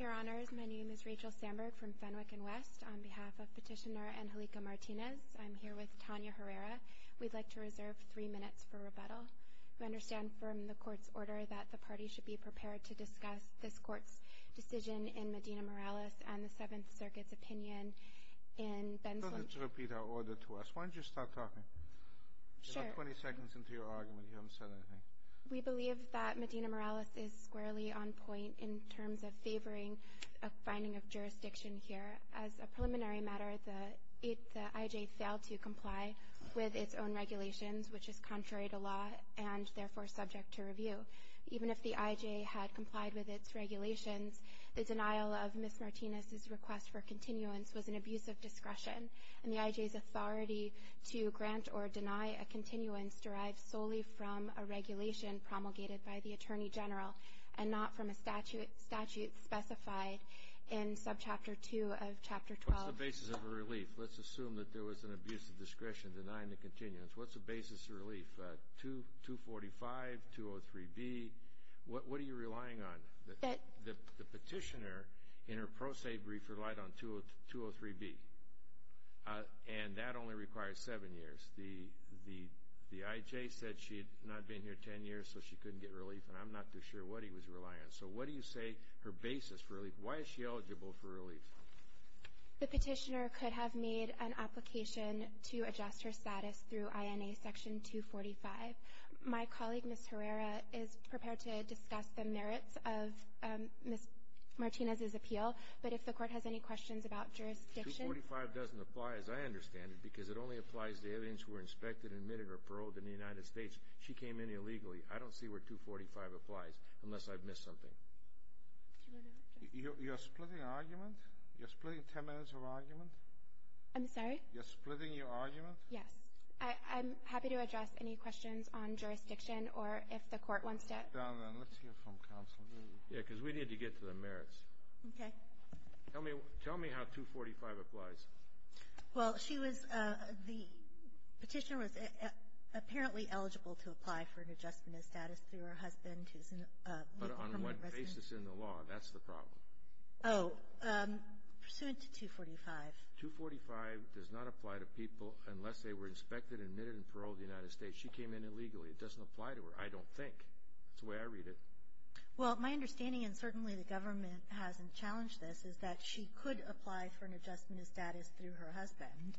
Your Honor, my name is Rachel Sandberg from Fenwick & West. On behalf of Petitioner Angelica Martinez, I'm here with Tanya Herrera. We'd like to reserve three minutes for rebuttal. We understand from the court's order that the party should be prepared to discuss this court's decision in Medina Morales and the 7th Circuit's opinion in Benzler. Let's repeat our order to us. Why don't you start talking? Sure. You're not 20 seconds into your argument. You haven't said anything. We believe that Medina Morales is squarely on point in terms of favoring a finding of jurisdiction here. As a preliminary matter, the I.J. failed to comply with its own regulations, which is contrary to law and therefore subject to review. Even if the I.J. had complied with its regulations, the denial of Ms. Martinez's request for continuance was an abuse of discretion, and the I.J.'s authority to grant or deny a continuance derived solely from a regulation promulgated by the Attorney General and not from a statute specified in Subchapter 2 of Chapter 12. What's the basis of a relief? Let's assume that there was an abuse of discretion denying the continuance. What's the basis of a relief? 245, 203B. What are you relying on? The petitioner in her pro se brief relied on 203B, and that only requires 7 years. The I.J. said she had not been here 10 years, so she couldn't get relief, and I'm not too sure what he was relying on. So what do you say her basis for relief? Why is she eligible for relief? The petitioner could have made an application to adjust her status through INA Section 245. My colleague, Ms. Herrera, is prepared to discuss the merits of Ms. Martinez's appeal, but if the Court has any questions about jurisdiction — 245 doesn't apply, as I understand it, because it only applies to evidence who were inspected, admitted, or paroled in the United States. She came in illegally. I don't see where 245 applies unless I've missed something. You're splitting argument? You're splitting 10 minutes of argument? I'm sorry? You're splitting your argument? Yes. I'm happy to address any questions on jurisdiction or if the Court wants to — Let's hear from counsel. Yeah, because we need to get to the merits. Okay. Tell me how 245 applies. Well, she was — the petitioner was apparently eligible to apply for an adjustment of status through her husband, But on what basis in the law? That's the problem. Oh, pursuant to 245. 245 does not apply to people unless they were inspected, admitted, and paroled in the United States. She came in illegally. It doesn't apply to her, I don't think. That's the way I read it. Well, my understanding, and certainly the government hasn't challenged this, is that she could apply for an adjustment of status through her husband,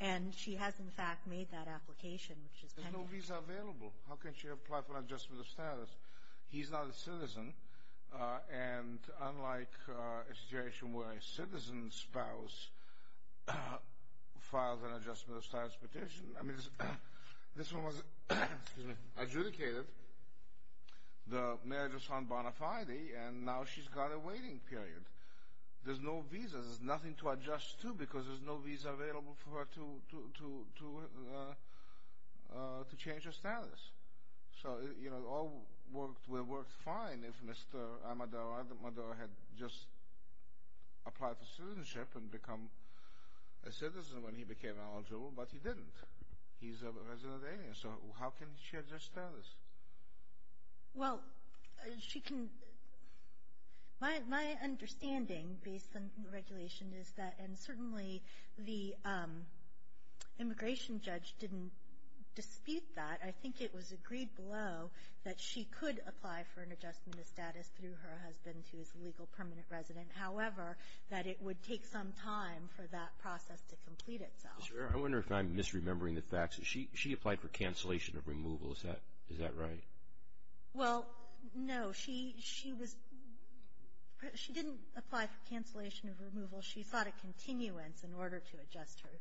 and she has, in fact, made that application, which is pending. There's no visa available. How can she apply for an adjustment of status? He's not a citizen, and unlike a situation where a citizen's spouse files an adjustment of status petition, I mean, this one was adjudicated, the marriage was on bona fide, and now she's got a waiting period. There's no visa. There's nothing to adjust to because there's no visa available for her to change her status. So, you know, it all would have worked fine if Mr. Amador had just applied for citizenship and become a citizen when he became eligible, but he didn't. He's a resident alien, so how can he change his status? Well, she can — my understanding based on the regulation is that, and certainly the immigration judge didn't dispute that. I think it was agreed below that she could apply for an adjustment of status through her husband, who is a legal permanent resident. However, that it would take some time for that process to complete itself. I wonder if I'm misremembering the facts. She applied for cancellation of removal. Is that right? Well, no. She was — she didn't apply for cancellation of removal. She sought a continuance in order to adjust her —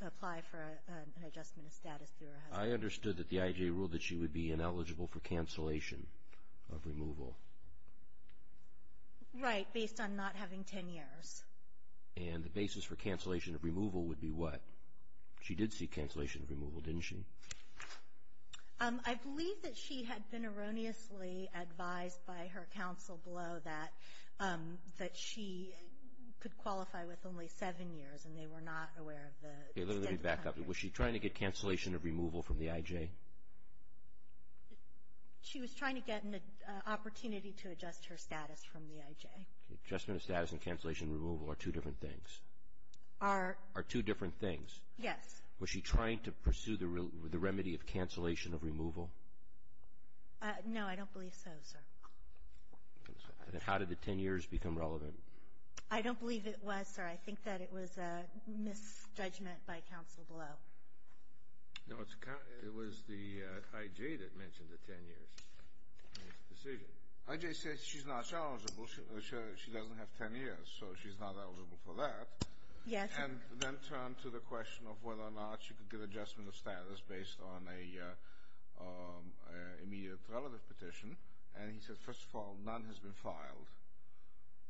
to apply for an adjustment of status through her husband. I understood that the IJ ruled that she would be ineligible for cancellation of removal. Right, based on not having 10 years. And the basis for cancellation of removal would be what? She did seek cancellation of removal, didn't she? I believe that she had been erroneously advised by her counsel below that she could qualify with only seven years, and they were not aware of the — Let me back up. Was she trying to get cancellation of removal from the IJ? She was trying to get an opportunity to adjust her status from the IJ. Adjustment of status and cancellation of removal are two different things. Are — Are two different things. Yes. Was she trying to pursue the remedy of cancellation of removal? No, I don't believe so, sir. Then how did the 10 years become relevant? I don't believe it was, sir. I think that it was a misjudgment by counsel below. No, it was the IJ that mentioned the 10 years in its decision. The IJ says she's not eligible. She doesn't have 10 years, so she's not eligible for that. Yes. And then turned to the question of whether or not she could get adjustment of status based on an immediate relative petition, and he said, first of all, none has been filed.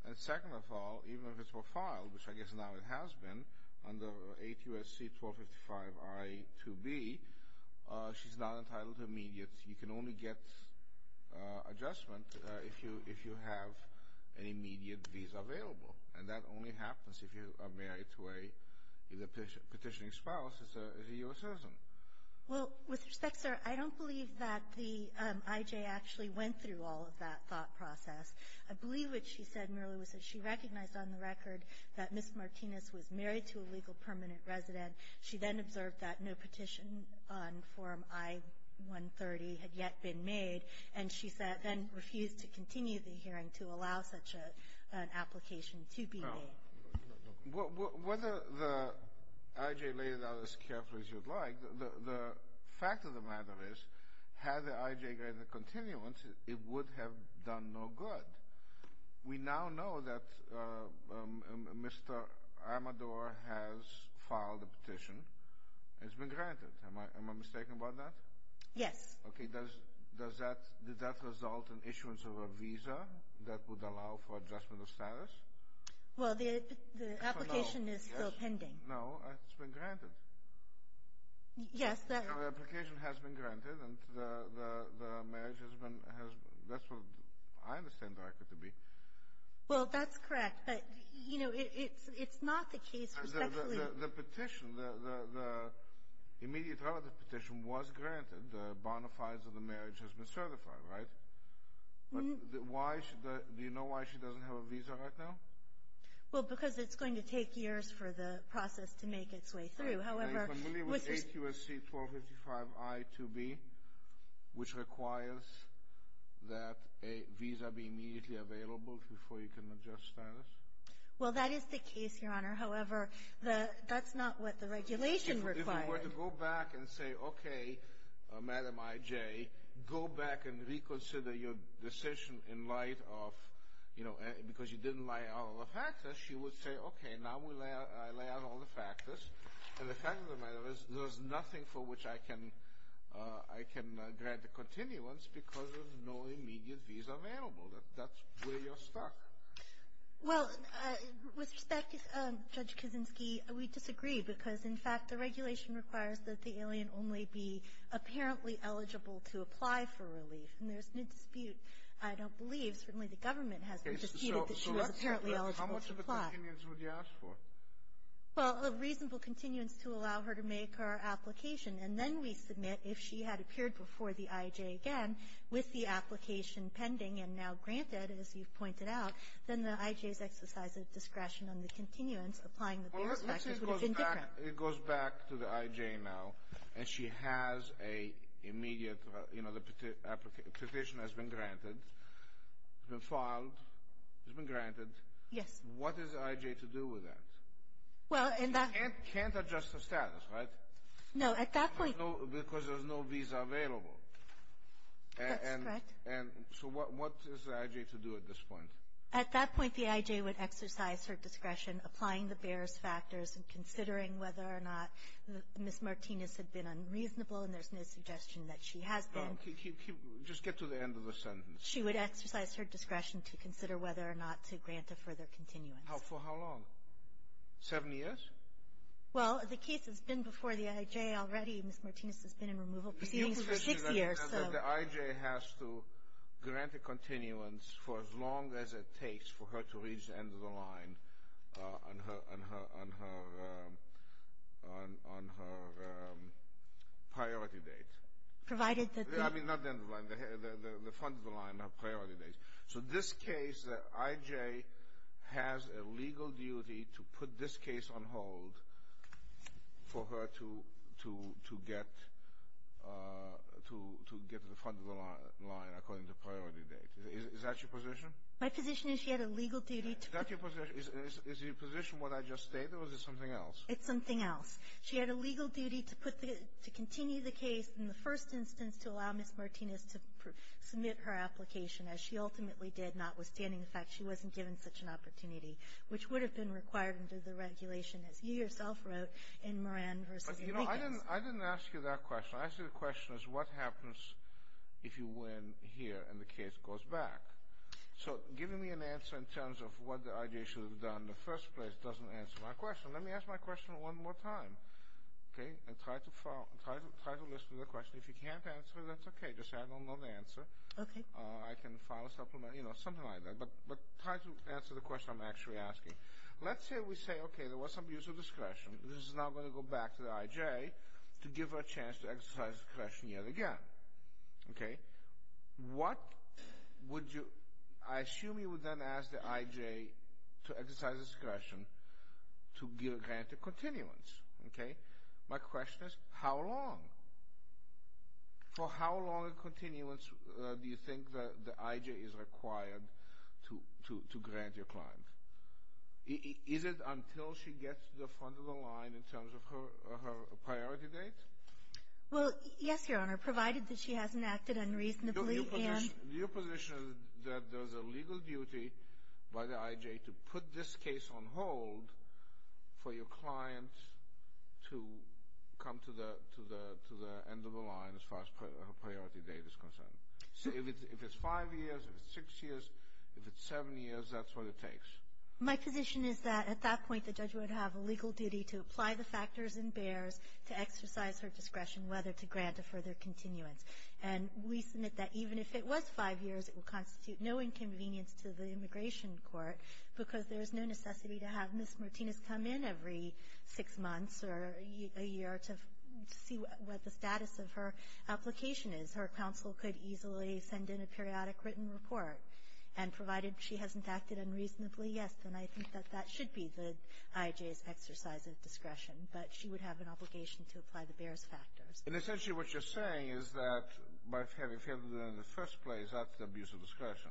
And second of all, even if it were filed, which I guess now it has been, under 8 U.S.C. 1255-I-2B, she's not entitled to immediate. You can only get adjustment if you have an immediate visa available, and that only happens if you are married to a petitioning spouse that's a U.S. citizen. Well, with respect, sir, I don't believe that the IJ actually went through all of that thought process. I believe what she said merely was that she recognized on the record that Ms. Martinez was married to a legal permanent resident. She then observed that no petition on Form I-130 had yet been made, and she then refused to continue the hearing to allow such an application to be made. Well, whether the IJ laid it out as carefully as you'd like, the fact of the matter is had the IJ granted continuance, it would have done no good. We now know that Mr. Amador has filed a petition. It's been granted. Am I mistaken about that? Yes. Okay. Does that result in issuance of a visa that would allow for adjustment of status? Well, the application is still pending. No, it's been granted. Yes. The application has been granted, and the marriage has been, that's what I understand the record to be. Well, that's correct, but, you know, it's not the case. The petition, the immediate relative petition was granted. The bonafides of the marriage has been certified, right? Do you know why she doesn't have a visa right now? Well, because it's going to take years for the process to make its way through. Are you familiar with 8 U.S.C. 1255 I2B, which requires that a visa be immediately available before you can adjust status? Well, that is the case, Your Honor. However, that's not what the regulation required. If you were to go back and say, okay, Madam IJ, go back and reconsider your decision in light of, you know, because you didn't lay out all the factors, she would say, okay, now we lay out all the factors. And the fact of the matter is there's nothing for which I can grant a continuance because there's no immediate visa available. That's where you're stuck. Well, with respect, Judge Kuczynski, we disagree because, in fact, the regulation requires that the alien only be apparently eligible to apply for relief, and there's no dispute. I don't believe, certainly the government hasn't disputed that she was apparently eligible to apply. Okay, so how much of a continuance would you ask for? Well, a reasonable continuance to allow her to make her application. And then we submit if she had appeared before the IJ again with the application pending and now granted, as you've pointed out, then the IJ's exercise of discretion on the continuance applying the various factors would have been different. Well, let's say it goes back to the IJ now, and she has a immediate, you know, the petition has been granted, has been filed, has been granted. Yes. What is the IJ to do with that? Well, in that — You can't adjust the status, right? No, at that point — Because there's no visa available. That's correct. And so what is the IJ to do at this point? At that point, the IJ would exercise her discretion applying the various factors and considering whether or not Ms. Martinez had been unreasonable, and there's no suggestion that she has been. Just get to the end of the sentence. She would exercise her discretion to consider whether or not to grant a further continuance. For how long? Seven years? Well, the case has been before the IJ already. Ms. Martinez has been in removal proceedings for six years, so — The IJ has to grant a continuance for as long as it takes for her to reach the end of the line on her priority date. Provided that the — So this case, the IJ has a legal duty to put this case on hold for her to get to the front of the line according to priority date. Is that your position? My position is she had a legal duty to — Is that your position? Is your position what I just stated, or is it something else? It's something else. She had a legal duty to put the — to continue the case in the first instance to allow Ms. Martinez to submit her application, as she ultimately did, notwithstanding the fact she wasn't given such an opportunity, which would have been required under the regulation, as you yourself wrote, in Moran v. Enriquez. But, you know, I didn't — I didn't ask you that question. I asked you the question is what happens if you win here and the case goes back? So giving me an answer in terms of what the IJ should have done in the first place doesn't answer my question. Let me ask my question one more time, okay, and try to follow — try to listen to the question. If you can't answer it, that's okay. Just say I don't know the answer. Okay. I can file a supplement, you know, something like that. But try to answer the question I'm actually asking. Let's say we say, okay, there was some use of discretion. This is now going to go back to the IJ to give her a chance to exercise discretion yet again, okay? What would you — I assume you would then ask the IJ to exercise discretion to grant a continuance, okay? My question is how long? For how long a continuance do you think the IJ is required to grant your client? Is it until she gets to the front of the line in terms of her priority date? Well, yes, Your Honor, provided that she hasn't acted unreasonably and — Your position is that there's a legal duty by the IJ to put this case on hold for your client to come to the end of the line as far as her priority date is concerned. So if it's five years, if it's six years, if it's seven years, that's what it takes. My position is that at that point, the judge would have a legal duty to apply the factors and bears to exercise her discretion, whether to grant a further continuance. And we submit that even if it was five years, it would constitute no inconvenience to the Immigration Court because there is no necessity to have Ms. Martinez come in every six months or a year to see what the status of her application is. Her counsel could easily send in a periodic written report. And provided she hasn't acted unreasonably, yes, then I think that that should be the IJ's exercise of discretion. But she would have an obligation to apply the bears factors. And essentially what you're saying is that by failing to do it in the first place, that's the abuse of discretion.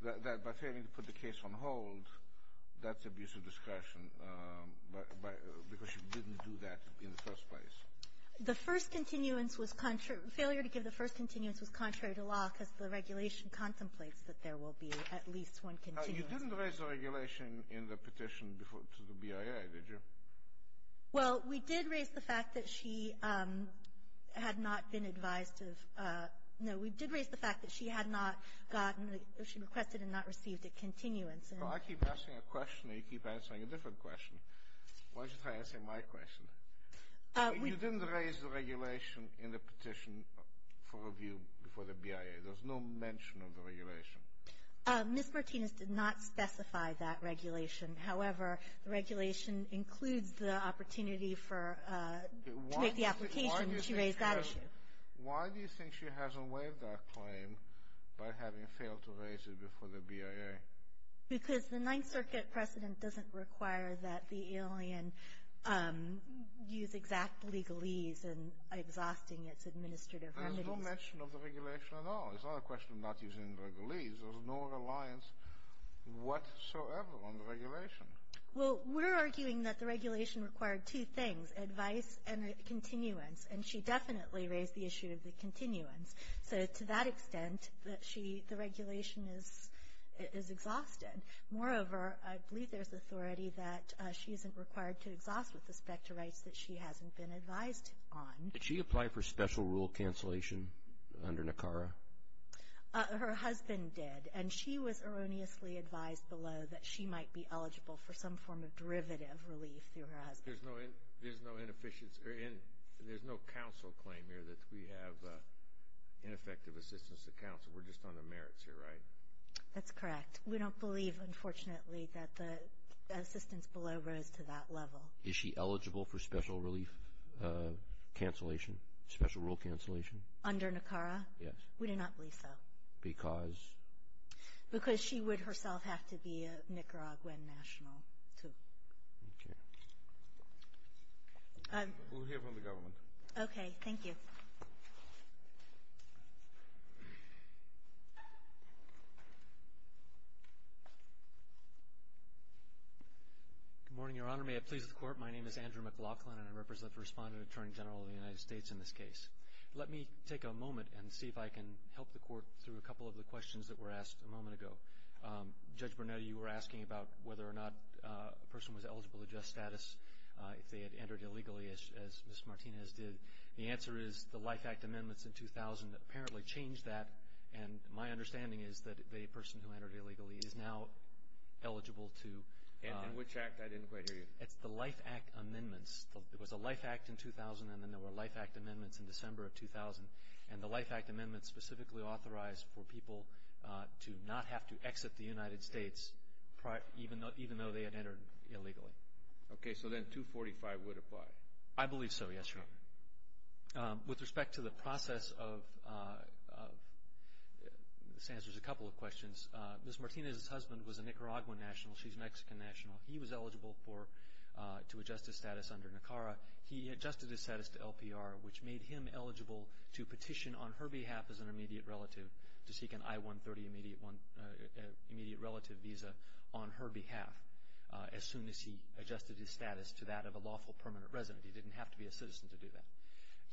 That by failing to put the case on hold, that's abuse of discretion because she didn't do that in the first place. The first continuance was contrary. Failure to give the first continuance was contrary to law because the regulation contemplates that there will be at least one continuance. You didn't raise the regulation in the petition to the BIA, did you? Well, we did raise the fact that she had not been advised to have no. We did raise the fact that she had not gotten, she requested and not received a continuance. Well, I keep asking a question and you keep answering a different question. Why don't you try answering my question? You didn't raise the regulation in the petition for review before the BIA. There's no mention of the regulation. Ms. Martinez did not specify that regulation. However, the regulation includes the opportunity to make the application. Why do you think she hasn't waived that claim by having failed to raise it before the BIA? Because the Ninth Circuit precedent doesn't require that the alien use exact legalese in exhausting its administrative remedies. There's no mention of the regulation at all. It's not a question of not using legalese. There's no reliance whatsoever on the regulation. Well, we're arguing that the regulation required two things, advice and a continuance. And she definitely raised the issue of the continuance. So to that extent, the regulation is exhausted. Moreover, I believe there's authority that she isn't required to exhaust with respect to rights that she hasn't been advised on. Did she apply for special rule cancellation under NACARA? Her husband did. And she was erroneously advised below that she might be eligible for some form of derivative relief through her husband. There's no council claim here that we have ineffective assistance to council. We're just on the merits here, right? That's correct. We don't believe, unfortunately, that the assistance below rose to that level. Is she eligible for special relief cancellation, special rule cancellation? Under NACARA? Yes. We do not believe so. Because? Because she would herself have to be a Nicaraguan national, too. Okay. We'll hear from the government. Okay. Thank you. Good morning, Your Honor. May it please the Court, my name is Andrew McLaughlin, and I represent the Respondent Attorney General of the United States in this case. Let me take a moment and see if I can help the Court through a couple of the questions that were asked a moment ago. Judge Burnett, you were asking about whether or not a person was eligible to just status if they had entered illegally, as Ms. Martinez did. The answer is the Life Act amendments in 2000 apparently changed that, and my understanding is that the person who entered illegally is now eligible to. And which act? I didn't quite hear you. It's the Life Act amendments. It was the Life Act in 2000, and then there were Life Act amendments in December of 2000. And the Life Act amendments specifically authorized for people to not have to exit the United States, even though they had entered illegally. Okay. So then 245 would apply? I believe so, yes, Your Honor. With respect to the process of, this answers a couple of questions. Ms. Martinez's husband was a Nicaraguan national. She's Mexican national. He was eligible to adjust his status under NICARA. He adjusted his status to LPR, which made him eligible to petition on her behalf as an immediate relative to seek an I-130 immediate relative visa on her behalf as soon as he adjusted his status to that of a lawful permanent resident. He didn't have to be a citizen to do that.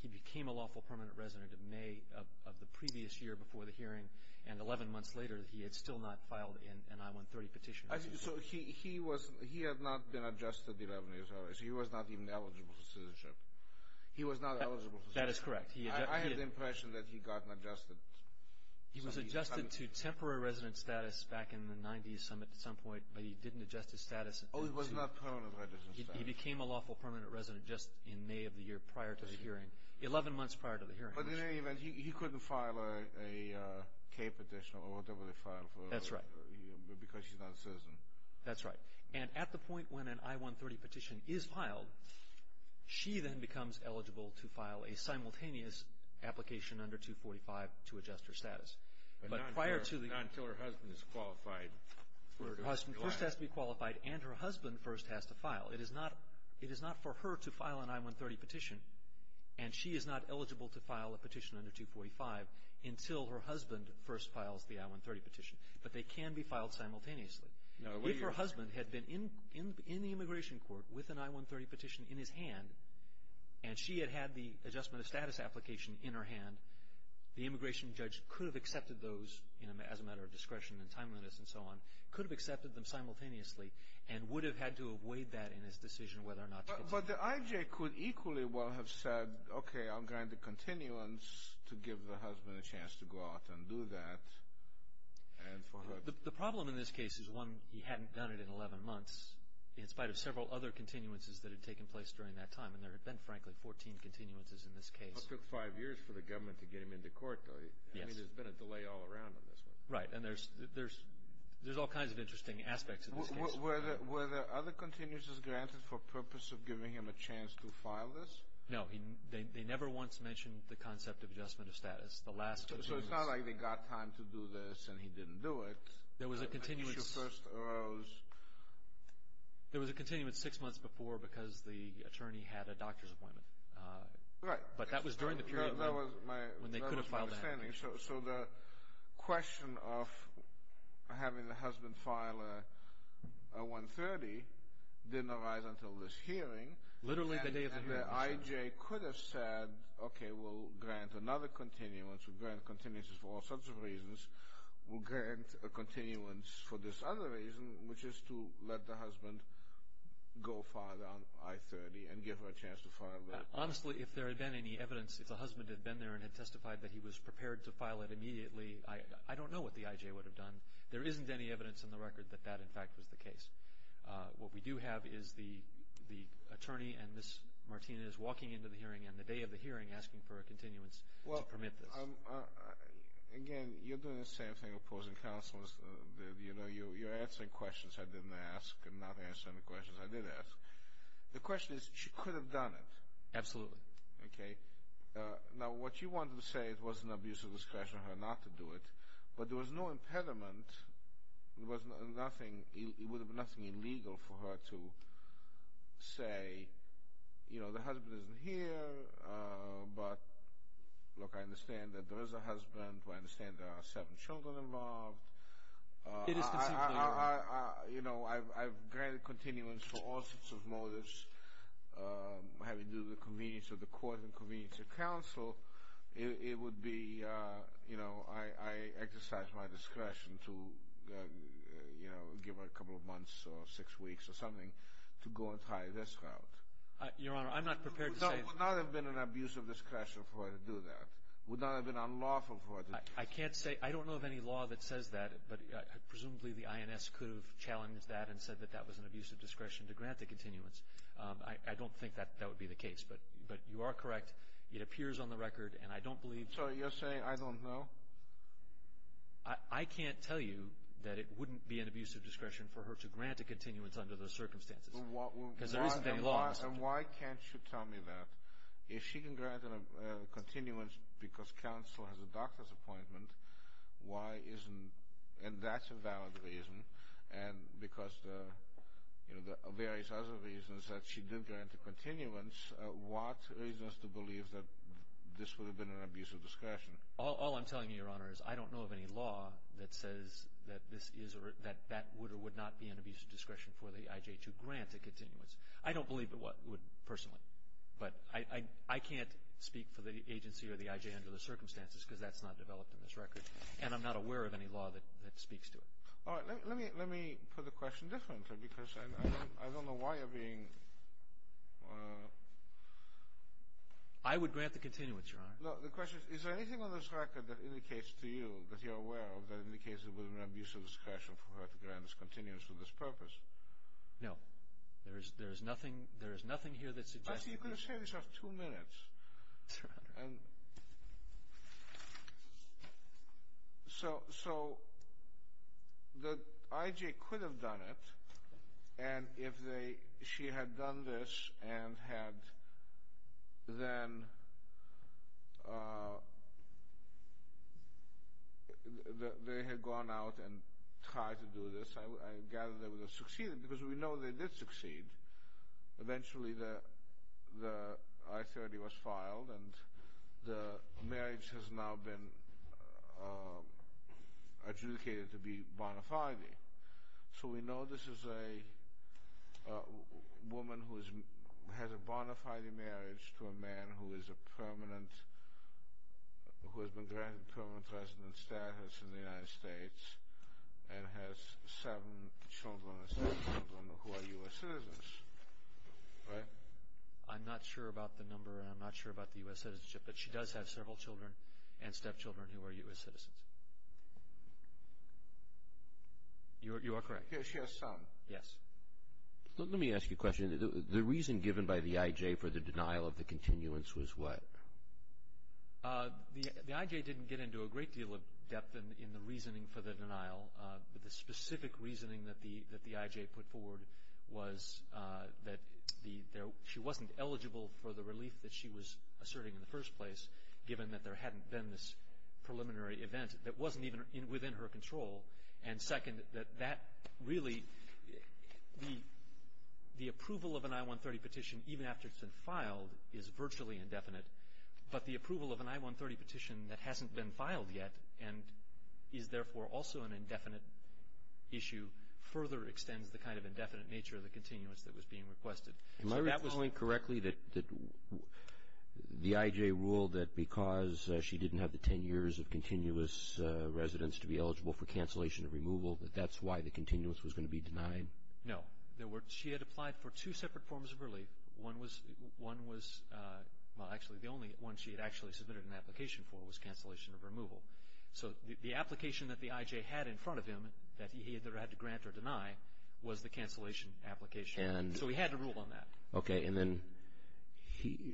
He became a lawful permanent resident in May of the previous year before the hearing, and 11 months later he had still not filed an I-130 petition. So he had not been adjusted 11 years earlier, so he was not even eligible for citizenship. He was not eligible for citizenship. That is correct. I have the impression that he got adjusted. He was adjusted to temporary resident status back in the 90s at some point, but he didn't adjust his status. Oh, he was not permanent resident status. He became a lawful permanent resident just in May of the year prior to the hearing, 11 months prior to the hearing. But in any event, he couldn't file a K petition or whatever they filed for him. That's right. Because she's not a citizen. That's right. And at the point when an I-130 petition is filed, she then becomes eligible to file a simultaneous application under 245 to adjust her status. But not until her husband is qualified. Her husband first has to be qualified and her husband first has to file. It is not for her to file an I-130 petition, and she is not eligible to file a petition under 245 until her husband first files the I-130 petition. But they can be filed simultaneously. If her husband had been in the immigration court with an I-130 petition in his hand and she had had the adjustment of status application in her hand, the immigration judge could have accepted those as a matter of discretion and timeliness and so on, could have accepted them simultaneously, and would have had to have weighed that in his decision whether or not to get them filed. But the IJ could equally well have said, okay, I'll grant a continuance to give the husband a chance to go out and do that. The problem in this case is, one, he hadn't done it in 11 months, in spite of several other continuances that had taken place during that time. And there had been, frankly, 14 continuances in this case. It took five years for the government to get him into court, though. Yes. I mean, there's been a delay all around on this one. Right. And there's all kinds of interesting aspects in this case. Were there other continuances granted for purpose of giving him a chance to file this? No. They never once mentioned the concept of adjustment of status. So it's not like they got time to do this and he didn't do it. There was a continuance six months before because the attorney had a doctor's appointment. Right. But that was during the period when they could have filed that. So the question of having the husband file a 130 didn't arise until this hearing. Literally the day of the hearing. And the IJ could have said, okay, we'll grant another continuance. We'll grant continuances for all sorts of reasons. We'll grant a continuance for this other reason, which is to let the husband go file on I-30 and give her a chance to file that. Honestly, if there had been any evidence, if the husband had been there and had testified that he was prepared to file it immediately, I don't know what the IJ would have done. There isn't any evidence in the record that that, in fact, was the case. What we do have is the attorney and Ms. Martinez walking into the hearing on the day of the hearing asking for a continuance to permit this. Again, you're doing the same thing opposing counsel. You're answering questions I didn't ask and not answering the questions I did ask. The question is, she could have done it. Absolutely. Okay. Now, what you wanted to say, it was an abuse of discretion on her not to do it, but there was no impediment. It would have been nothing illegal for her to say, you know, the husband isn't here, but, look, I understand that there is a husband. I understand there are seven children involved. It is conceivable. You know, I've granted continuance for all sorts of motives, having to do with the convenience of the court and convenience of counsel. It would be, you know, I exercise my discretion to, you know, give her a couple of months or six weeks or something to go and try this out. Your Honor, I'm not prepared to say. It would not have been an abuse of discretion for her to do that. It would not have been unlawful for her to do that. I can't say. I don't know of any law that says that, but presumably the INS could have challenged that and said that that was an abuse of discretion to grant the continuance. I don't think that that would be the case, but you are correct. It appears on the record, and I don't believe. So you're saying I don't know? I can't tell you that it wouldn't be an abuse of discretion for her to grant a continuance under those circumstances. Because there isn't any law. And why can't you tell me that? If she can grant a continuance because counsel has a doctor's appointment, why isn't, and that's a valid reason, and because, you know, there are various other reasons that she didn't grant a continuance, what leads us to believe that this would have been an abuse of discretion? All I'm telling you, Your Honor, is I don't know of any law that says that this is or that that would or would not be an abuse of discretion for the IJ to grant a continuance. I don't believe it would personally. But I can't speak for the agency or the IJ under the circumstances because that's not developed in this record, and I'm not aware of any law that speaks to it. All right. Let me put the question differently because I don't know why you're being… I would grant the continuance, Your Honor. No, the question is, is there anything on this record that indicates to you that you're aware of that indicates it would have been an abuse of discretion for her to grant a continuance for this purpose? No. There is nothing here that suggests… Actually, you could have said this after two minutes. Your Honor. So the IJ could have done it, and if she had done this and had then… they had gone out and tried to do this, I gather they would have succeeded because we know they did succeed. Eventually the I-30 was filed, and the marriage has now been adjudicated to be bona fide. So we know this is a woman who has a bona fide marriage to a man who has been granted permanent resident status in the United States and has seven children and seven children who are U.S. citizens, right? I'm not sure about the number and I'm not sure about the U.S. citizenship, but she does have several children and stepchildren who are U.S. citizens. You are correct. Yes, she has some. Yes. Let me ask you a question. The reason given by the IJ for the denial of the continuance was what? The IJ didn't get into a great deal of depth in the reasoning for the denial, but the specific reasoning that the IJ put forward was that she wasn't eligible for the relief that she was asserting in the first place, given that there hadn't been this preliminary event that wasn't even within her control, and second, that that really, the approval of an I-130 petition, even after it's been filed, is virtually indefinite, but the approval of an I-130 petition that hasn't been filed yet and is therefore also an indefinite issue further extends the kind of indefinite nature of the continuance that was being requested. Am I recalling correctly that the IJ ruled that because she didn't have the ten years of continuous residence to be eligible for cancellation and removal, that that's why the continuance was going to be denied? No. There were, she had applied for two separate forms of relief. One was, well, actually the only one she had actually submitted an application for was cancellation of removal. So the application that the IJ had in front of him that he either had to grant or deny was the cancellation application. So he had to rule on that. Okay, and then,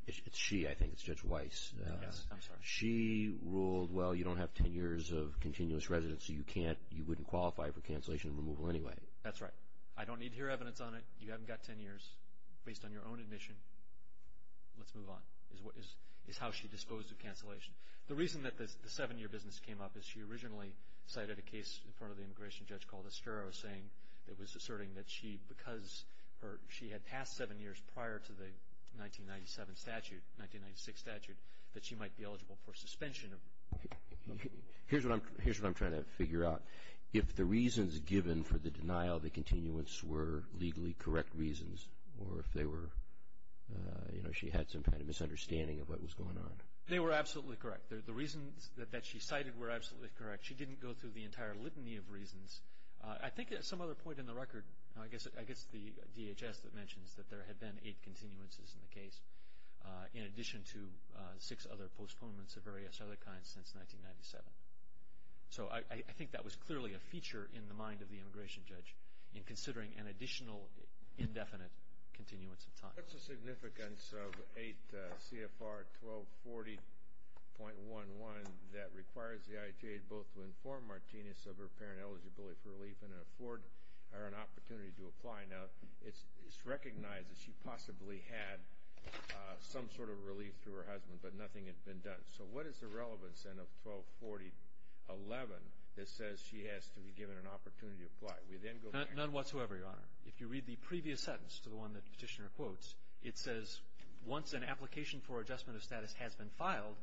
it's she, I think, it's Judge Weiss. Yes, I'm sorry. She ruled, well, you don't have ten years of continuous residence, so you can't, you wouldn't qualify for cancellation and removal anyway. That's right. I don't need to hear evidence on it. You haven't got ten years based on your own admission. Let's move on, is how she disposed of cancellation. The reason that the seven-year business came up is she originally cited a case in front of the immigration judge called Estrella saying that it was asserting that she, because she had passed seven years prior to the 1997 statute, 1996 statute, that she might be eligible for suspension. Here's what I'm trying to figure out. If the reasons given for the denial of the continuance were legally correct reasons, or if they were, you know, she had some kind of misunderstanding of what was going on. They were absolutely correct. The reasons that she cited were absolutely correct. She didn't go through the entire litany of reasons. I think at some other point in the record, I guess the DHS that mentions that there had been eight continuances in the case, in addition to six other postponements of various other kinds since 1997. So I think that was clearly a feature in the mind of the immigration judge, in considering an additional indefinite continuance of time. What's the significance of 8 CFR 1240.11 that requires the ITA both to inform Martinez of her apparent eligibility for relief and afford her an opportunity to apply? Now, it's recognized that she possibly had some sort of relief through her husband, but nothing had been done. So what is the relevance, then, of 1240.11 that says she has to be given an opportunity to apply? None whatsoever, Your Honor. If you read the previous sentence to the one that Petitioner quotes, it says once an application for adjustment of status has been filed,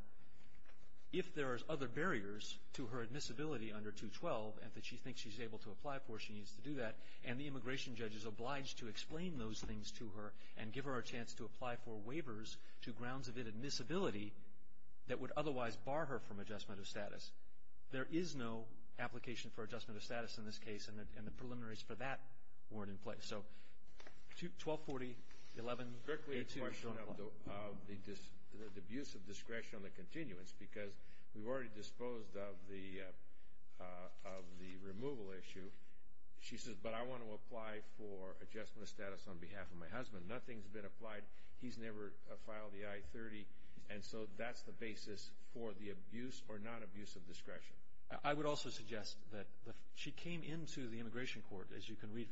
if there are other barriers to her admissibility under 212 and that she thinks she's able to apply for, she needs to do that, and the immigration judge is obliged to explain those things to her and give her a chance to apply for waivers to grounds of admissibility that would otherwise bar her from adjustment of status. There is no application for adjustment of status in this case, and the preliminaries for that weren't in place. So 1240.11, 8 CFR 1240.11. It's a question of the abuse of discretion on the continuance, because we've already disposed of the removal issue. She says, but I want to apply for adjustment of status on behalf of my husband. Nothing's been applied. He's never filed the I-30. And so that's the basis for the abuse or non-abuse of discretion. I would also suggest that she came into the immigration court, as you can read,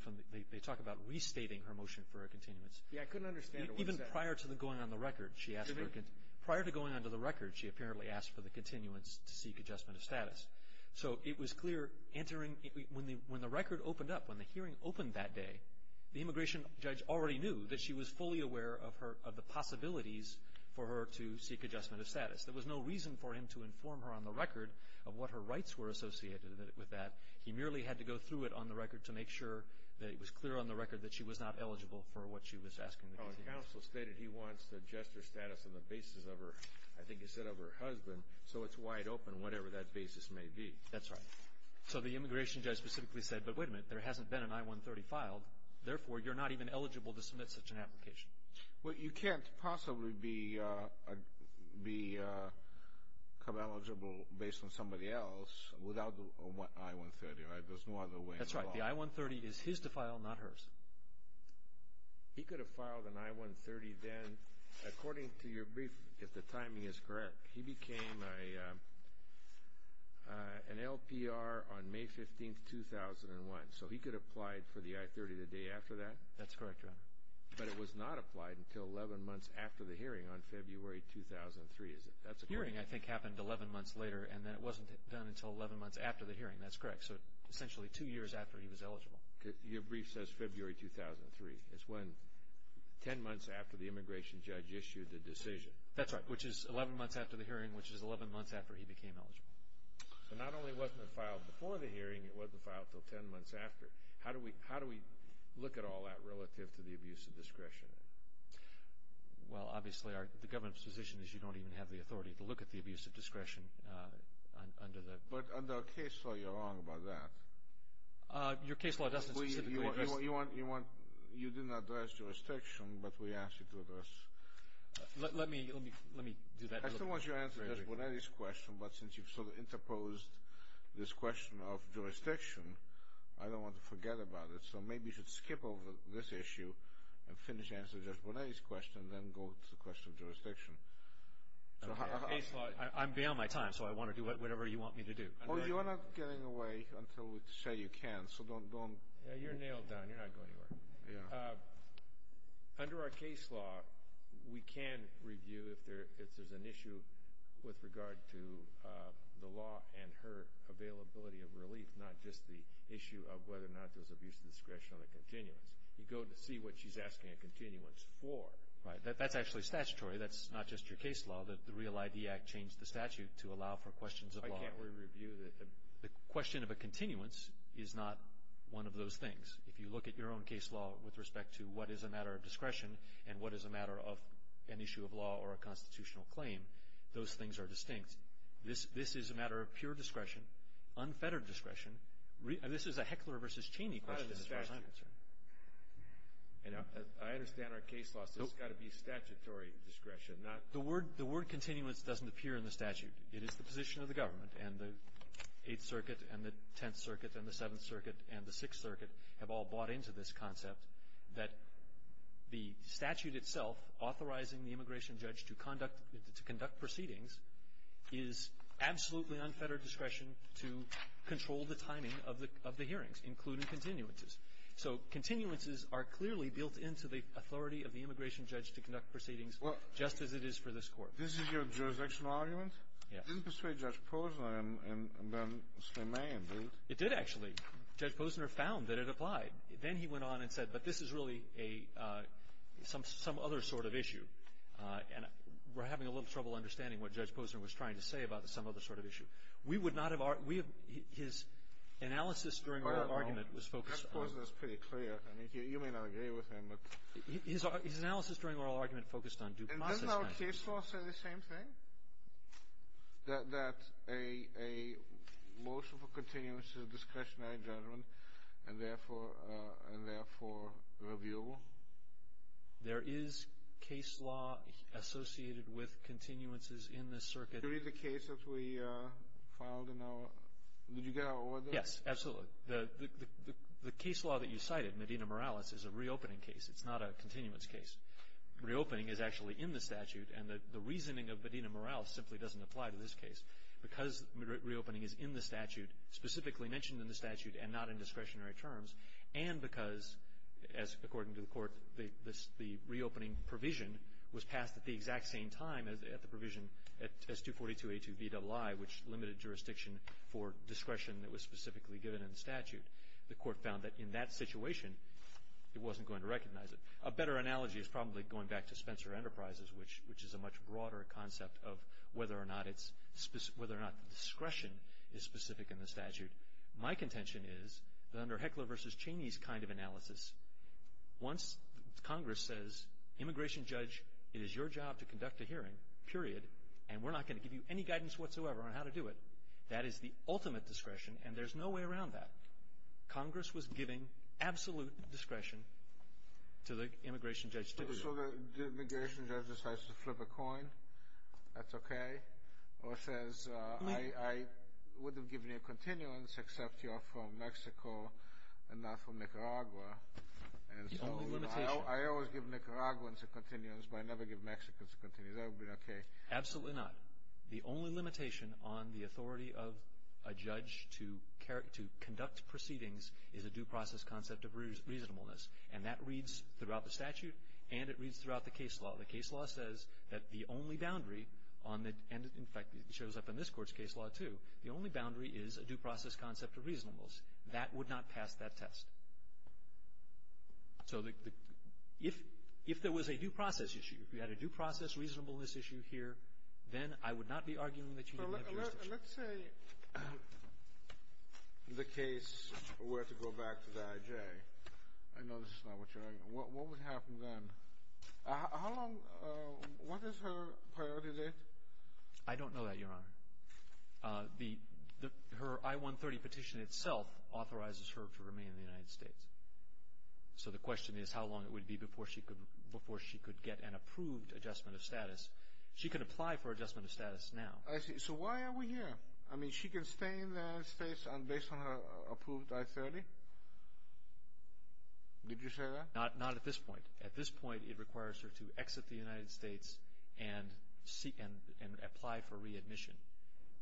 they talk about restating her motion for a continuance. Yeah, I couldn't understand it. Even prior to going on the record, she asked for a continuance. Prior to going on to the record, she apparently asked for the continuance to seek adjustment of status. So it was clear when the record opened up, when the hearing opened that day, the immigration judge already knew that she was fully aware of the possibilities for her to seek adjustment of status. There was no reason for him to inform her on the record of what her rights were associated with that. He merely had to go through it on the record to make sure that it was clear on the record that she was not eligible for what she was asking for. The counsel stated he wants to adjust her status on the basis of her, I think he said of her husband, so it's wide open, whatever that basis may be. That's right. So the immigration judge specifically said, but wait a minute, there hasn't been an I-130 filed. Therefore, you're not even eligible to submit such an application. Well, you can't possibly be eligible based on somebody else without the I-130, right? There's no other way. That's right. The I-130 is his to file, not hers. He could have filed an I-130 then, according to your brief, if the timing is correct. He became an LPR on May 15, 2001, so he could have applied for the I-130 the day after that. That's correct, Your Honor. But it was not applied until 11 months after the hearing on February 2003, is it? That's correct. The hearing, I think, happened 11 months later, and then it wasn't done until 11 months after the hearing. That's correct. So essentially two years after he was eligible. Your brief says February 2003. It's 10 months after the immigration judge issued the decision. That's right. Which is 11 months after the hearing, which is 11 months after he became eligible. So not only wasn't it filed before the hearing, it wasn't filed until 10 months after. How do we look at all that relative to the abuse of discretion? Well, obviously, the government's position is you don't even have the authority to look at the abuse of discretion. But under our case law, you're wrong about that. Your case law doesn't specifically address that. You didn't address jurisdiction, but we asked you to address it. Let me do that real quick. I still want you to answer Judge Bonetti's question, but since you've sort of interposed this question of jurisdiction, I don't want to forget about it. So maybe you should skip over this issue and finish answering Judge Bonetti's question and then go to the question of jurisdiction. I'm beyond my time, so I want to do whatever you want me to do. Well, you're not getting away until we say you can, so don't. You're nailed down. You're not going anywhere. Yeah. Under our case law, we can review if there's an issue with regard to the law and her availability of relief, not just the issue of whether or not there's abuse of discretion on the continuance. You go to see what she's asking a continuance for. Right. That's actually statutory. That's not just your case law. The REAL ID Act changed the statute to allow for questions of law. Why can't we review that? The question of a continuance is not one of those things. If you look at your own case law with respect to what is a matter of discretion and what is a matter of an issue of law or a constitutional claim, those things are distinct. This is a matter of pure discretion, unfettered discretion. This is a Heckler v. Cheney question as far as I'm concerned. I understand our case law. This has got to be statutory discretion. The word continuance doesn't appear in the statute. It is the position of the government, and the Eighth Circuit and the Tenth Circuit and the Seventh Circuit and the Sixth Circuit have all bought into this concept that the statute itself authorizing the immigration judge to conduct proceedings is absolutely unfettered discretion to control the timing of the hearings, including continuances. So continuances are clearly built into the authority of the immigration judge to conduct proceedings, just as it is for this Court. This is your jurisdictional argument? Yes. It didn't persuade Judge Posner and then Slimane, did it? It did, actually. Judge Posner found that it applied. Then he went on and said, but this is really some other sort of issue. And we're having a little trouble understanding what Judge Posner was trying to say about some other sort of issue. We would not have our – his analysis during oral argument was focused on – Judge Posner is pretty clear. I mean, you may not agree with him, but – His analysis during oral argument focused on due process matters. Doesn't our case law say the same thing? That a motion for continuance is a discretionary judgment and, therefore, reviewable? There is case law associated with continuances in this circuit. Did you read the case that we filed in our – did you get our order? Yes, absolutely. The case law that you cited, Medina-Morales, is a reopening case. It's not a continuance case. Reopening is actually in the statute, and the reasoning of Medina-Morales simply doesn't apply to this case. Because reopening is in the statute, specifically mentioned in the statute and not in discretionary terms, and because, as according to the court, the reopening provision was passed at the exact same time as the provision at S.242A2VII, which limited jurisdiction for discretion that was specifically given in the statute, the court found that in that situation it wasn't going to recognize it. A better analogy is probably going back to Spencer Enterprises, which is a much broader concept of whether or not the discretion is specific in the statute. My contention is that under Heckler v. Cheney's kind of analysis, once Congress says, Immigration Judge, it is your job to conduct a hearing, period, and we're not going to give you any guidance whatsoever on how to do it, that is the ultimate discretion, and there's no way around that. Congress was giving absolute discretion to the Immigration Judge to do it. So the Immigration Judge decides to flip a coin, that's okay, or says I wouldn't give you a continuance except you're from Mexico and not from Nicaragua. The only limitation. I always give Nicaraguans a continuance, but I never give Mexicans a continuance. That would be okay. Absolutely not. The only limitation on the authority of a judge to conduct proceedings is a due process concept of reasonableness, and that reads throughout the statute and it reads throughout the case law. The case law says that the only boundary, and in fact it shows up in this court's case law too, the only boundary is a due process concept of reasonableness. That would not pass that test. So if there was a due process issue, if you had a due process reasonableness issue here, then I would not be arguing that you didn't have jurisdiction. Let's say the case were to go back to the IJ. I know this is not what you're arguing. What would happen then? How long, what is her priority date? I don't know that, Your Honor. Her I-130 petition itself authorizes her to remain in the United States. So the question is how long it would be before she could get an approved adjustment of status. She can apply for adjustment of status now. I see. So why are we here? I mean she can stay in the United States based on her approved I-130? Did you say that? Not at this point. At this point it requires her to exit the United States and apply for readmission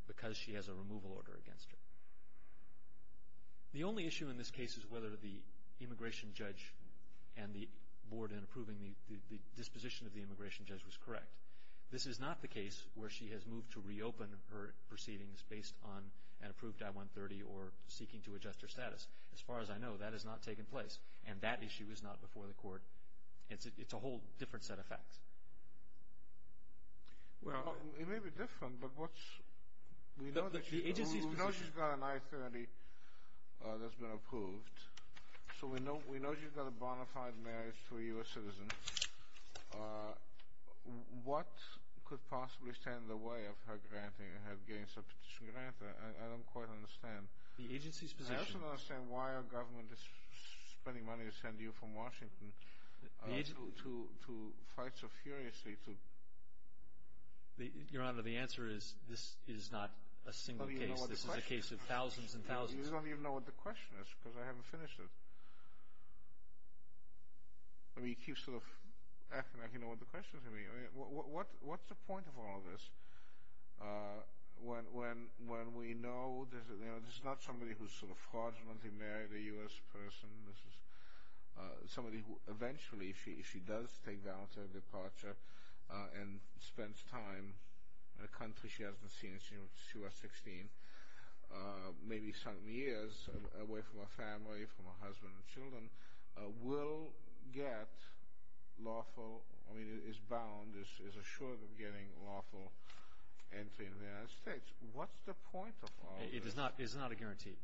because she has a removal order against her. The only issue in this case is whether the immigration judge and the board in approving the disposition of the immigration judge was correct. This is not the case where she has moved to reopen her proceedings based on an approved I-130 or seeking to adjust her status. As far as I know, that has not taken place, and that issue is not before the court. It's a whole different set of facts. Well, it may be different, but we know she's got an I-130 that's been approved, so we know she's got a bona fide marriage to a U.S. citizen. What could possibly stand in the way of her granting her gains of petition grant? I don't quite understand. The agency's position. I also don't understand why our government is spending money to send you from Washington to fight so furiously. Your Honor, the answer is this is not a single case. This is a case of thousands and thousands. You don't even know what the question is because I haven't finished it. I mean, you keep sort of acting like you know what the question is going to be. What's the point of all this when we know this is not somebody who's sort of fraudulently married a U.S. person. This is somebody who eventually, if she does take down her departure and spends time in a country she hasn't seen since she was 16, maybe some years away from her family, from her husband and children, will get lawful, I mean is bound, is assured of getting lawful entry in the United States. What's the point of all this? It is not a guarantee.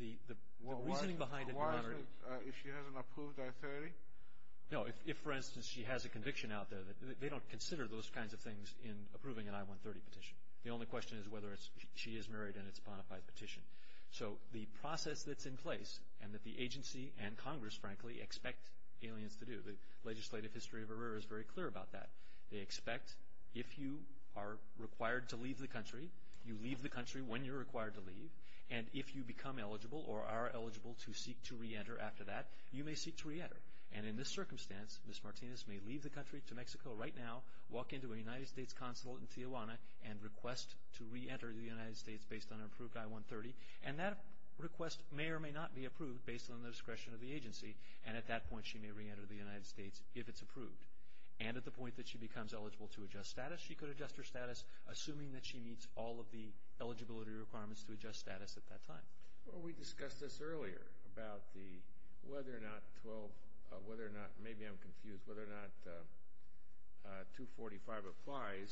The reasoning behind it, Your Honor. If she hasn't approved I-30? No, if, for instance, she has a conviction out there, they don't consider those kinds of things in approving an I-130 petition. The only question is whether she is married and it's a bona fide petition. So the process that's in place and that the agency and Congress, frankly, expect aliens to do, the legislative history of ERIRA is very clear about that. They expect if you are required to leave the country, you leave the country when you're required to leave, and if you become eligible or are eligible to seek to reenter after that, you may seek to reenter. And in this circumstance, Ms. Martinez may leave the country to Mexico right now, walk into a United States consulate in Tijuana, and request to reenter the United States based on her approved I-130. And that request may or may not be approved based on the discretion of the agency, and at that point she may reenter the United States if it's approved. And at the point that she becomes eligible to adjust status, she could adjust her status, assuming that she meets all of the eligibility requirements to adjust status at that time. Well, we discussed this earlier about the whether or not 12, whether or not, maybe I'm confused, whether or not 245 applies,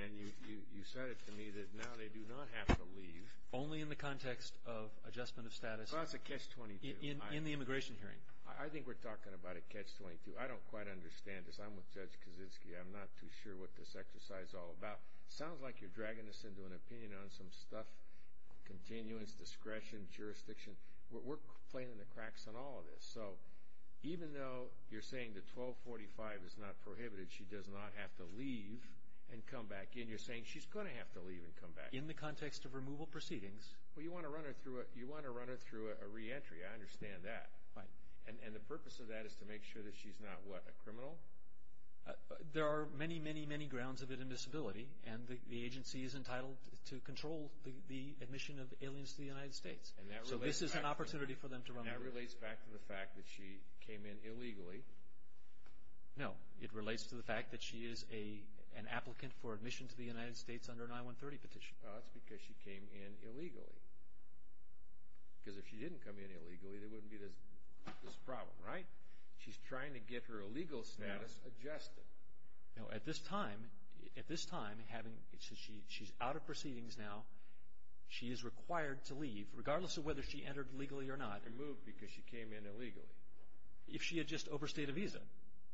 and you said it to me that now they do not have to leave. Only in the context of adjustment of status. Well, that's a catch-22. In the immigration hearing. I think we're talking about a catch-22. I don't quite understand this. I'm with Judge Kaczynski. I'm not too sure what this exercise is all about. It sounds like you're dragging this into an opinion on some stuff, continuance, discretion, jurisdiction. We're playing in the cracks on all of this. So even though you're saying that 1245 is not prohibited, she does not have to leave and come back in, you're saying she's going to have to leave and come back in. In the context of removal proceedings. Well, you want to run her through a reentry. I understand that. Right. And the purpose of that is to make sure that she's not, what, a criminal? There are many, many, many grounds of inadmissibility, and the agency is entitled to control the admission of aliens to the United States. So this is an opportunity for them to run the case. And that relates back to the fact that she came in illegally. No, it relates to the fact that she is an applicant for admission to the United States under an I-130 petition. That's because she came in illegally. Because if she didn't come in illegally, there wouldn't be this problem, right? She's trying to get her illegal status adjusted. No, at this time, at this time, having, she's out of proceedings now. She is required to leave, regardless of whether she entered legally or not. Removed because she came in illegally. If she had just overstayed a visa,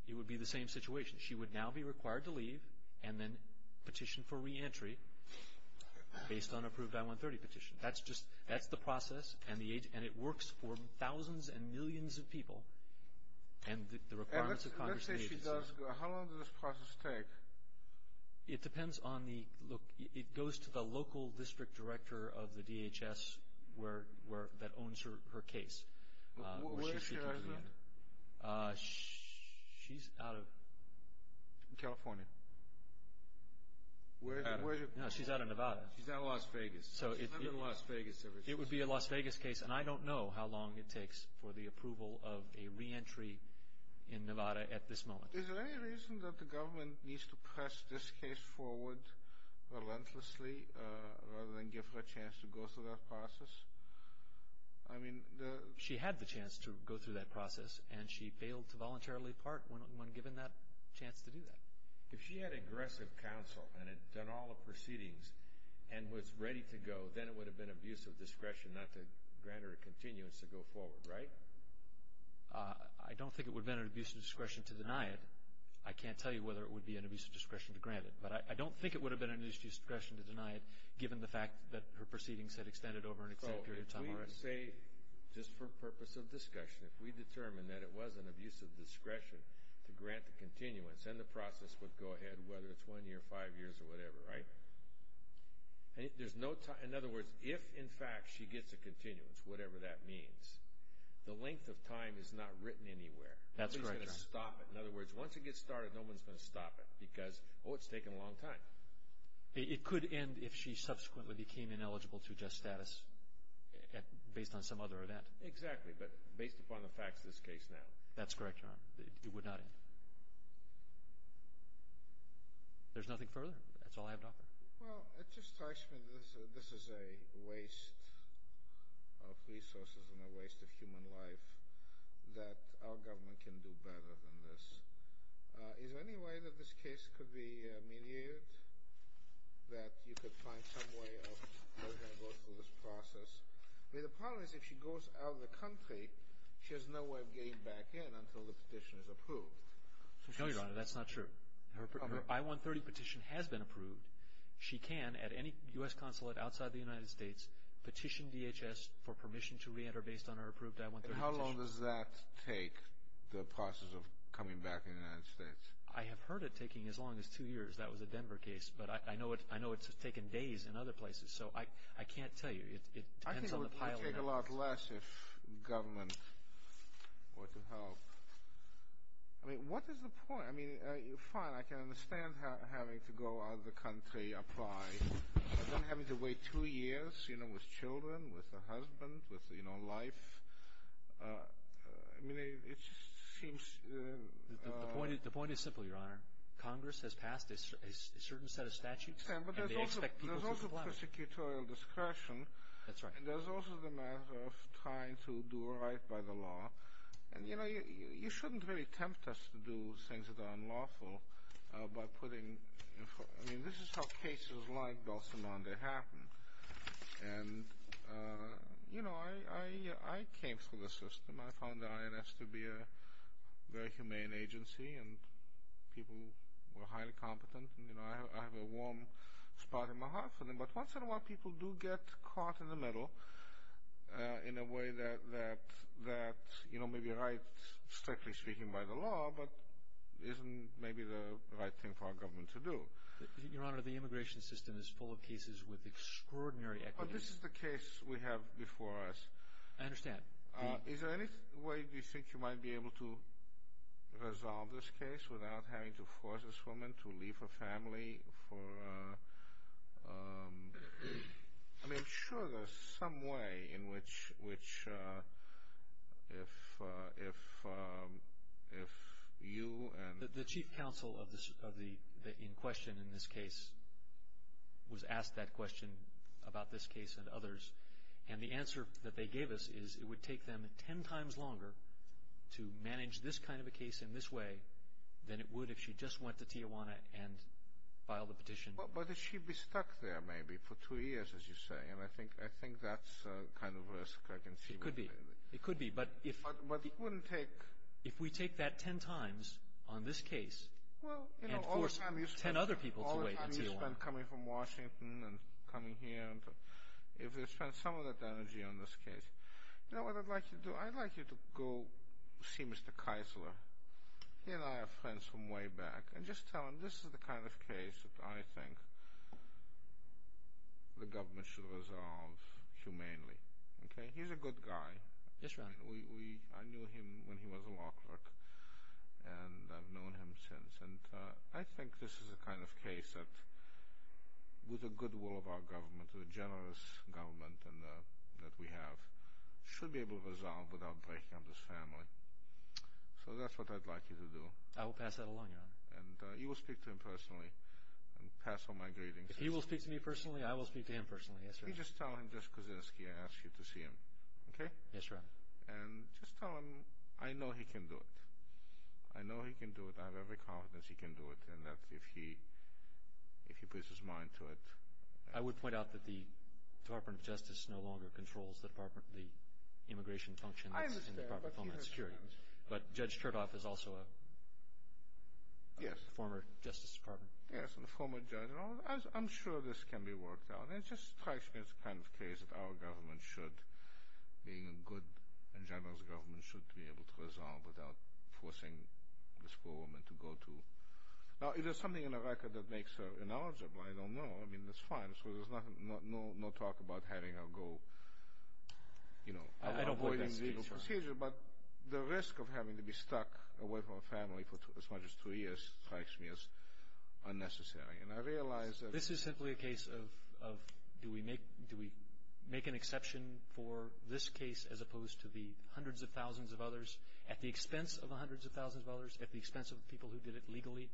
it would be the same situation. She would now be required to leave and then petition for reentry based on an approved I-130 petition. That's just, that's the process, and it works for thousands and millions of people. And the requirements of Congress and the agency. Let's say she does go. How long does this process take? It depends on the, look, it goes to the local district director of the DHS where, that owns her case. Where is she resident? She's out of. California. No, she's out of Nevada. She's out of Las Vegas. She's not in Las Vegas. It would be a Las Vegas case, and I don't know how long it takes for the approval of a reentry in Nevada at this moment. Is there any reason that the government needs to press this case forward relentlessly rather than give her a chance to go through that process? I mean. She had the chance to go through that process, and she failed to voluntarily part when given that chance to do that. If she had aggressive counsel and had done all the proceedings and was ready to go, then it would have been an abuse of discretion not to grant her a continuance to go forward, right? I don't think it would have been an abuse of discretion to deny it. I can't tell you whether it would be an abuse of discretion to grant it, but I don't think it would have been an abuse of discretion to deny it, given the fact that her proceedings had extended over an extended period of time. So if we say, just for purpose of discussion, if we determine that it was an abuse of discretion to grant the continuance, then the process would go ahead whether it's one year, five years, or whatever, right? In other words, if, in fact, she gets a continuance, whatever that means, the length of time is not written anywhere. That's correct. No one's going to stop it. In other words, once it gets started, no one's going to stop it because, oh, it's taken a long time. It could end if she subsequently became ineligible to adjust status based on some other event. Exactly, but based upon the facts of this case now. That's correct, Your Honor. It would not end. There's nothing further. That's all I have to offer. Well, it just strikes me that this is a waste of resources and a waste of human life that our government can do better than this. Is there any way that this case could be mediated, that you could find some way of having her go through this process? I mean, the problem is if she goes out of the country, she has no way of getting back in until the petition is approved. No, Your Honor, that's not true. Her I-130 petition has been approved. She can, at any U.S. consulate outside the United States, petition DHS for permission to reenter based on her approved I-130 petition. And how long does that take, the process of coming back in the United States? I have heard it taking as long as two years. That was a Denver case, but I know it's taken days in other places, so I can't tell you. It depends on the pilot. I think it would take a lot less if government were to help. I mean, what is the point? I mean, fine, I can understand having to go out of the country, apply, but then having to wait two years, you know, with children, with a husband, with, you know, life. I mean, it just seems— The point is simple, Your Honor. Congress has passed a certain set of statutes, and they expect people to comply. That's right. And there's also the matter of trying to do right by the law. And, you know, you shouldn't really tempt us to do things that are unlawful by putting— I mean, this is how cases like Belsenande happen. And, you know, I came through the system. I found the INS to be a very humane agency, and people were highly competent, and, you know, I have a warm spot in my heart for them. But once in a while people do get caught in the middle in a way that, you know, may be right, strictly speaking, by the law, but isn't maybe the right thing for our government to do. Your Honor, the immigration system is full of cases with extraordinary equity. But this is the case we have before us. I understand. Is there any way you think you might be able to resolve this case without having to force this woman to leave her family for— I mean, I'm sure there's some way in which if you and— The chief counsel in question in this case was asked that question about this case and others. And the answer that they gave us is it would take them ten times longer to manage this kind of a case in this way than it would if she just went to Tijuana and filed a petition. But she'd be stuck there maybe for two years, as you say, and I think that's the kind of risk I can see. It could be. It could be, but if— But it wouldn't take— If we take that ten times on this case and force ten other people to wait in Tijuana. All the time you spend coming from Washington and coming here, if you spend some of that energy on this case. You know what I'd like you to do? I'd like you to go see Mr. Keisler. He and I are friends from way back. And just tell him this is the kind of case that I think the government should resolve humanely. He's a good guy. Yes, Your Honor. I knew him when he was a law clerk, and I've known him since. And I think this is the kind of case that, with the goodwill of our government, the generous government that we have, should be able to resolve without breaking up this family. So that's what I'd like you to do. I will pass that along, Your Honor. And you will speak to him personally and pass on my greetings. If he will speak to me personally, I will speak to him personally. Yes, Your Honor. You just tell him, just because I asked you to see him. Okay? Yes, Your Honor. And just tell him I know he can do it. I know he can do it. I have every confidence he can do it, and that if he puts his mind to it— I would point out that the Department of Justice no longer controls the immigration functions in the Department of Homeland Security. But Judge Chertoff is also a former Justice Department. Yes, a former judge. I'm sure this can be worked out. And it just strikes me as the kind of case that our government should, being a good and generous government, should be able to resolve without forcing this poor woman to go to— Now, is there something in the record that makes her ineligible? I don't know. I mean, that's fine. There's no talk about having her go, you know— I don't believe that's the case, Your Honor. But the risk of having to be stuck away from a family for as much as two years strikes me as unnecessary. And I realize that— This is simply a case of do we make an exception for this case as opposed to the hundreds of thousands of others at the expense of the hundreds of thousands of others, at the expense of the people who did it legally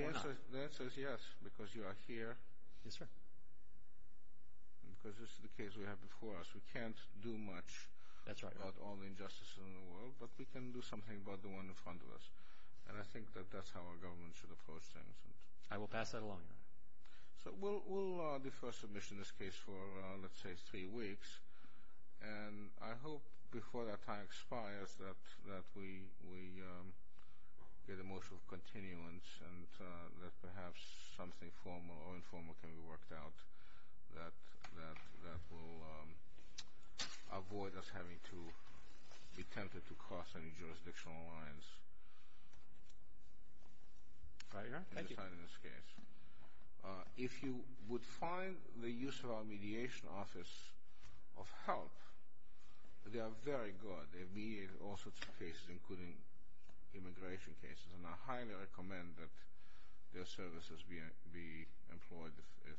or not? The answer is yes, because you are here. Yes, sir. Because this is the case we have before us. We can't do much— That's right, Your Honor. —about all the injustices in the world, but we can do something about the one in front of us. And I think that that's how our government should approach things. I will pass that along, Your Honor. So we'll defer submission in this case for, let's say, three weeks. And I hope before that time expires that we get a motion of continuance and that perhaps something formal or informal can be worked out that will avoid us having to be tempted to cross any jurisdictional lines. Right, Your Honor. Thank you. If you would find the use of our mediation office of help, they are very good. They have mediated all sorts of cases, including immigration cases, and I highly recommend that their services be employed if—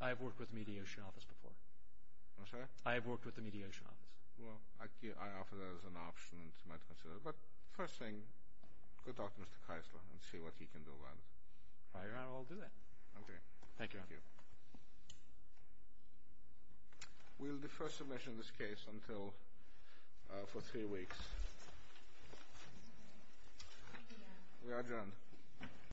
I have worked with the mediation office before. I'm sorry? I have worked with the mediation office. Well, I offer that as an option, and you might consider it. But first thing, go talk to Mr. Keisler and see what he can do about it. I will do that. Thank you, Your Honor. Thank you. We'll defer submission in this case until—for three weeks. We are adjourned.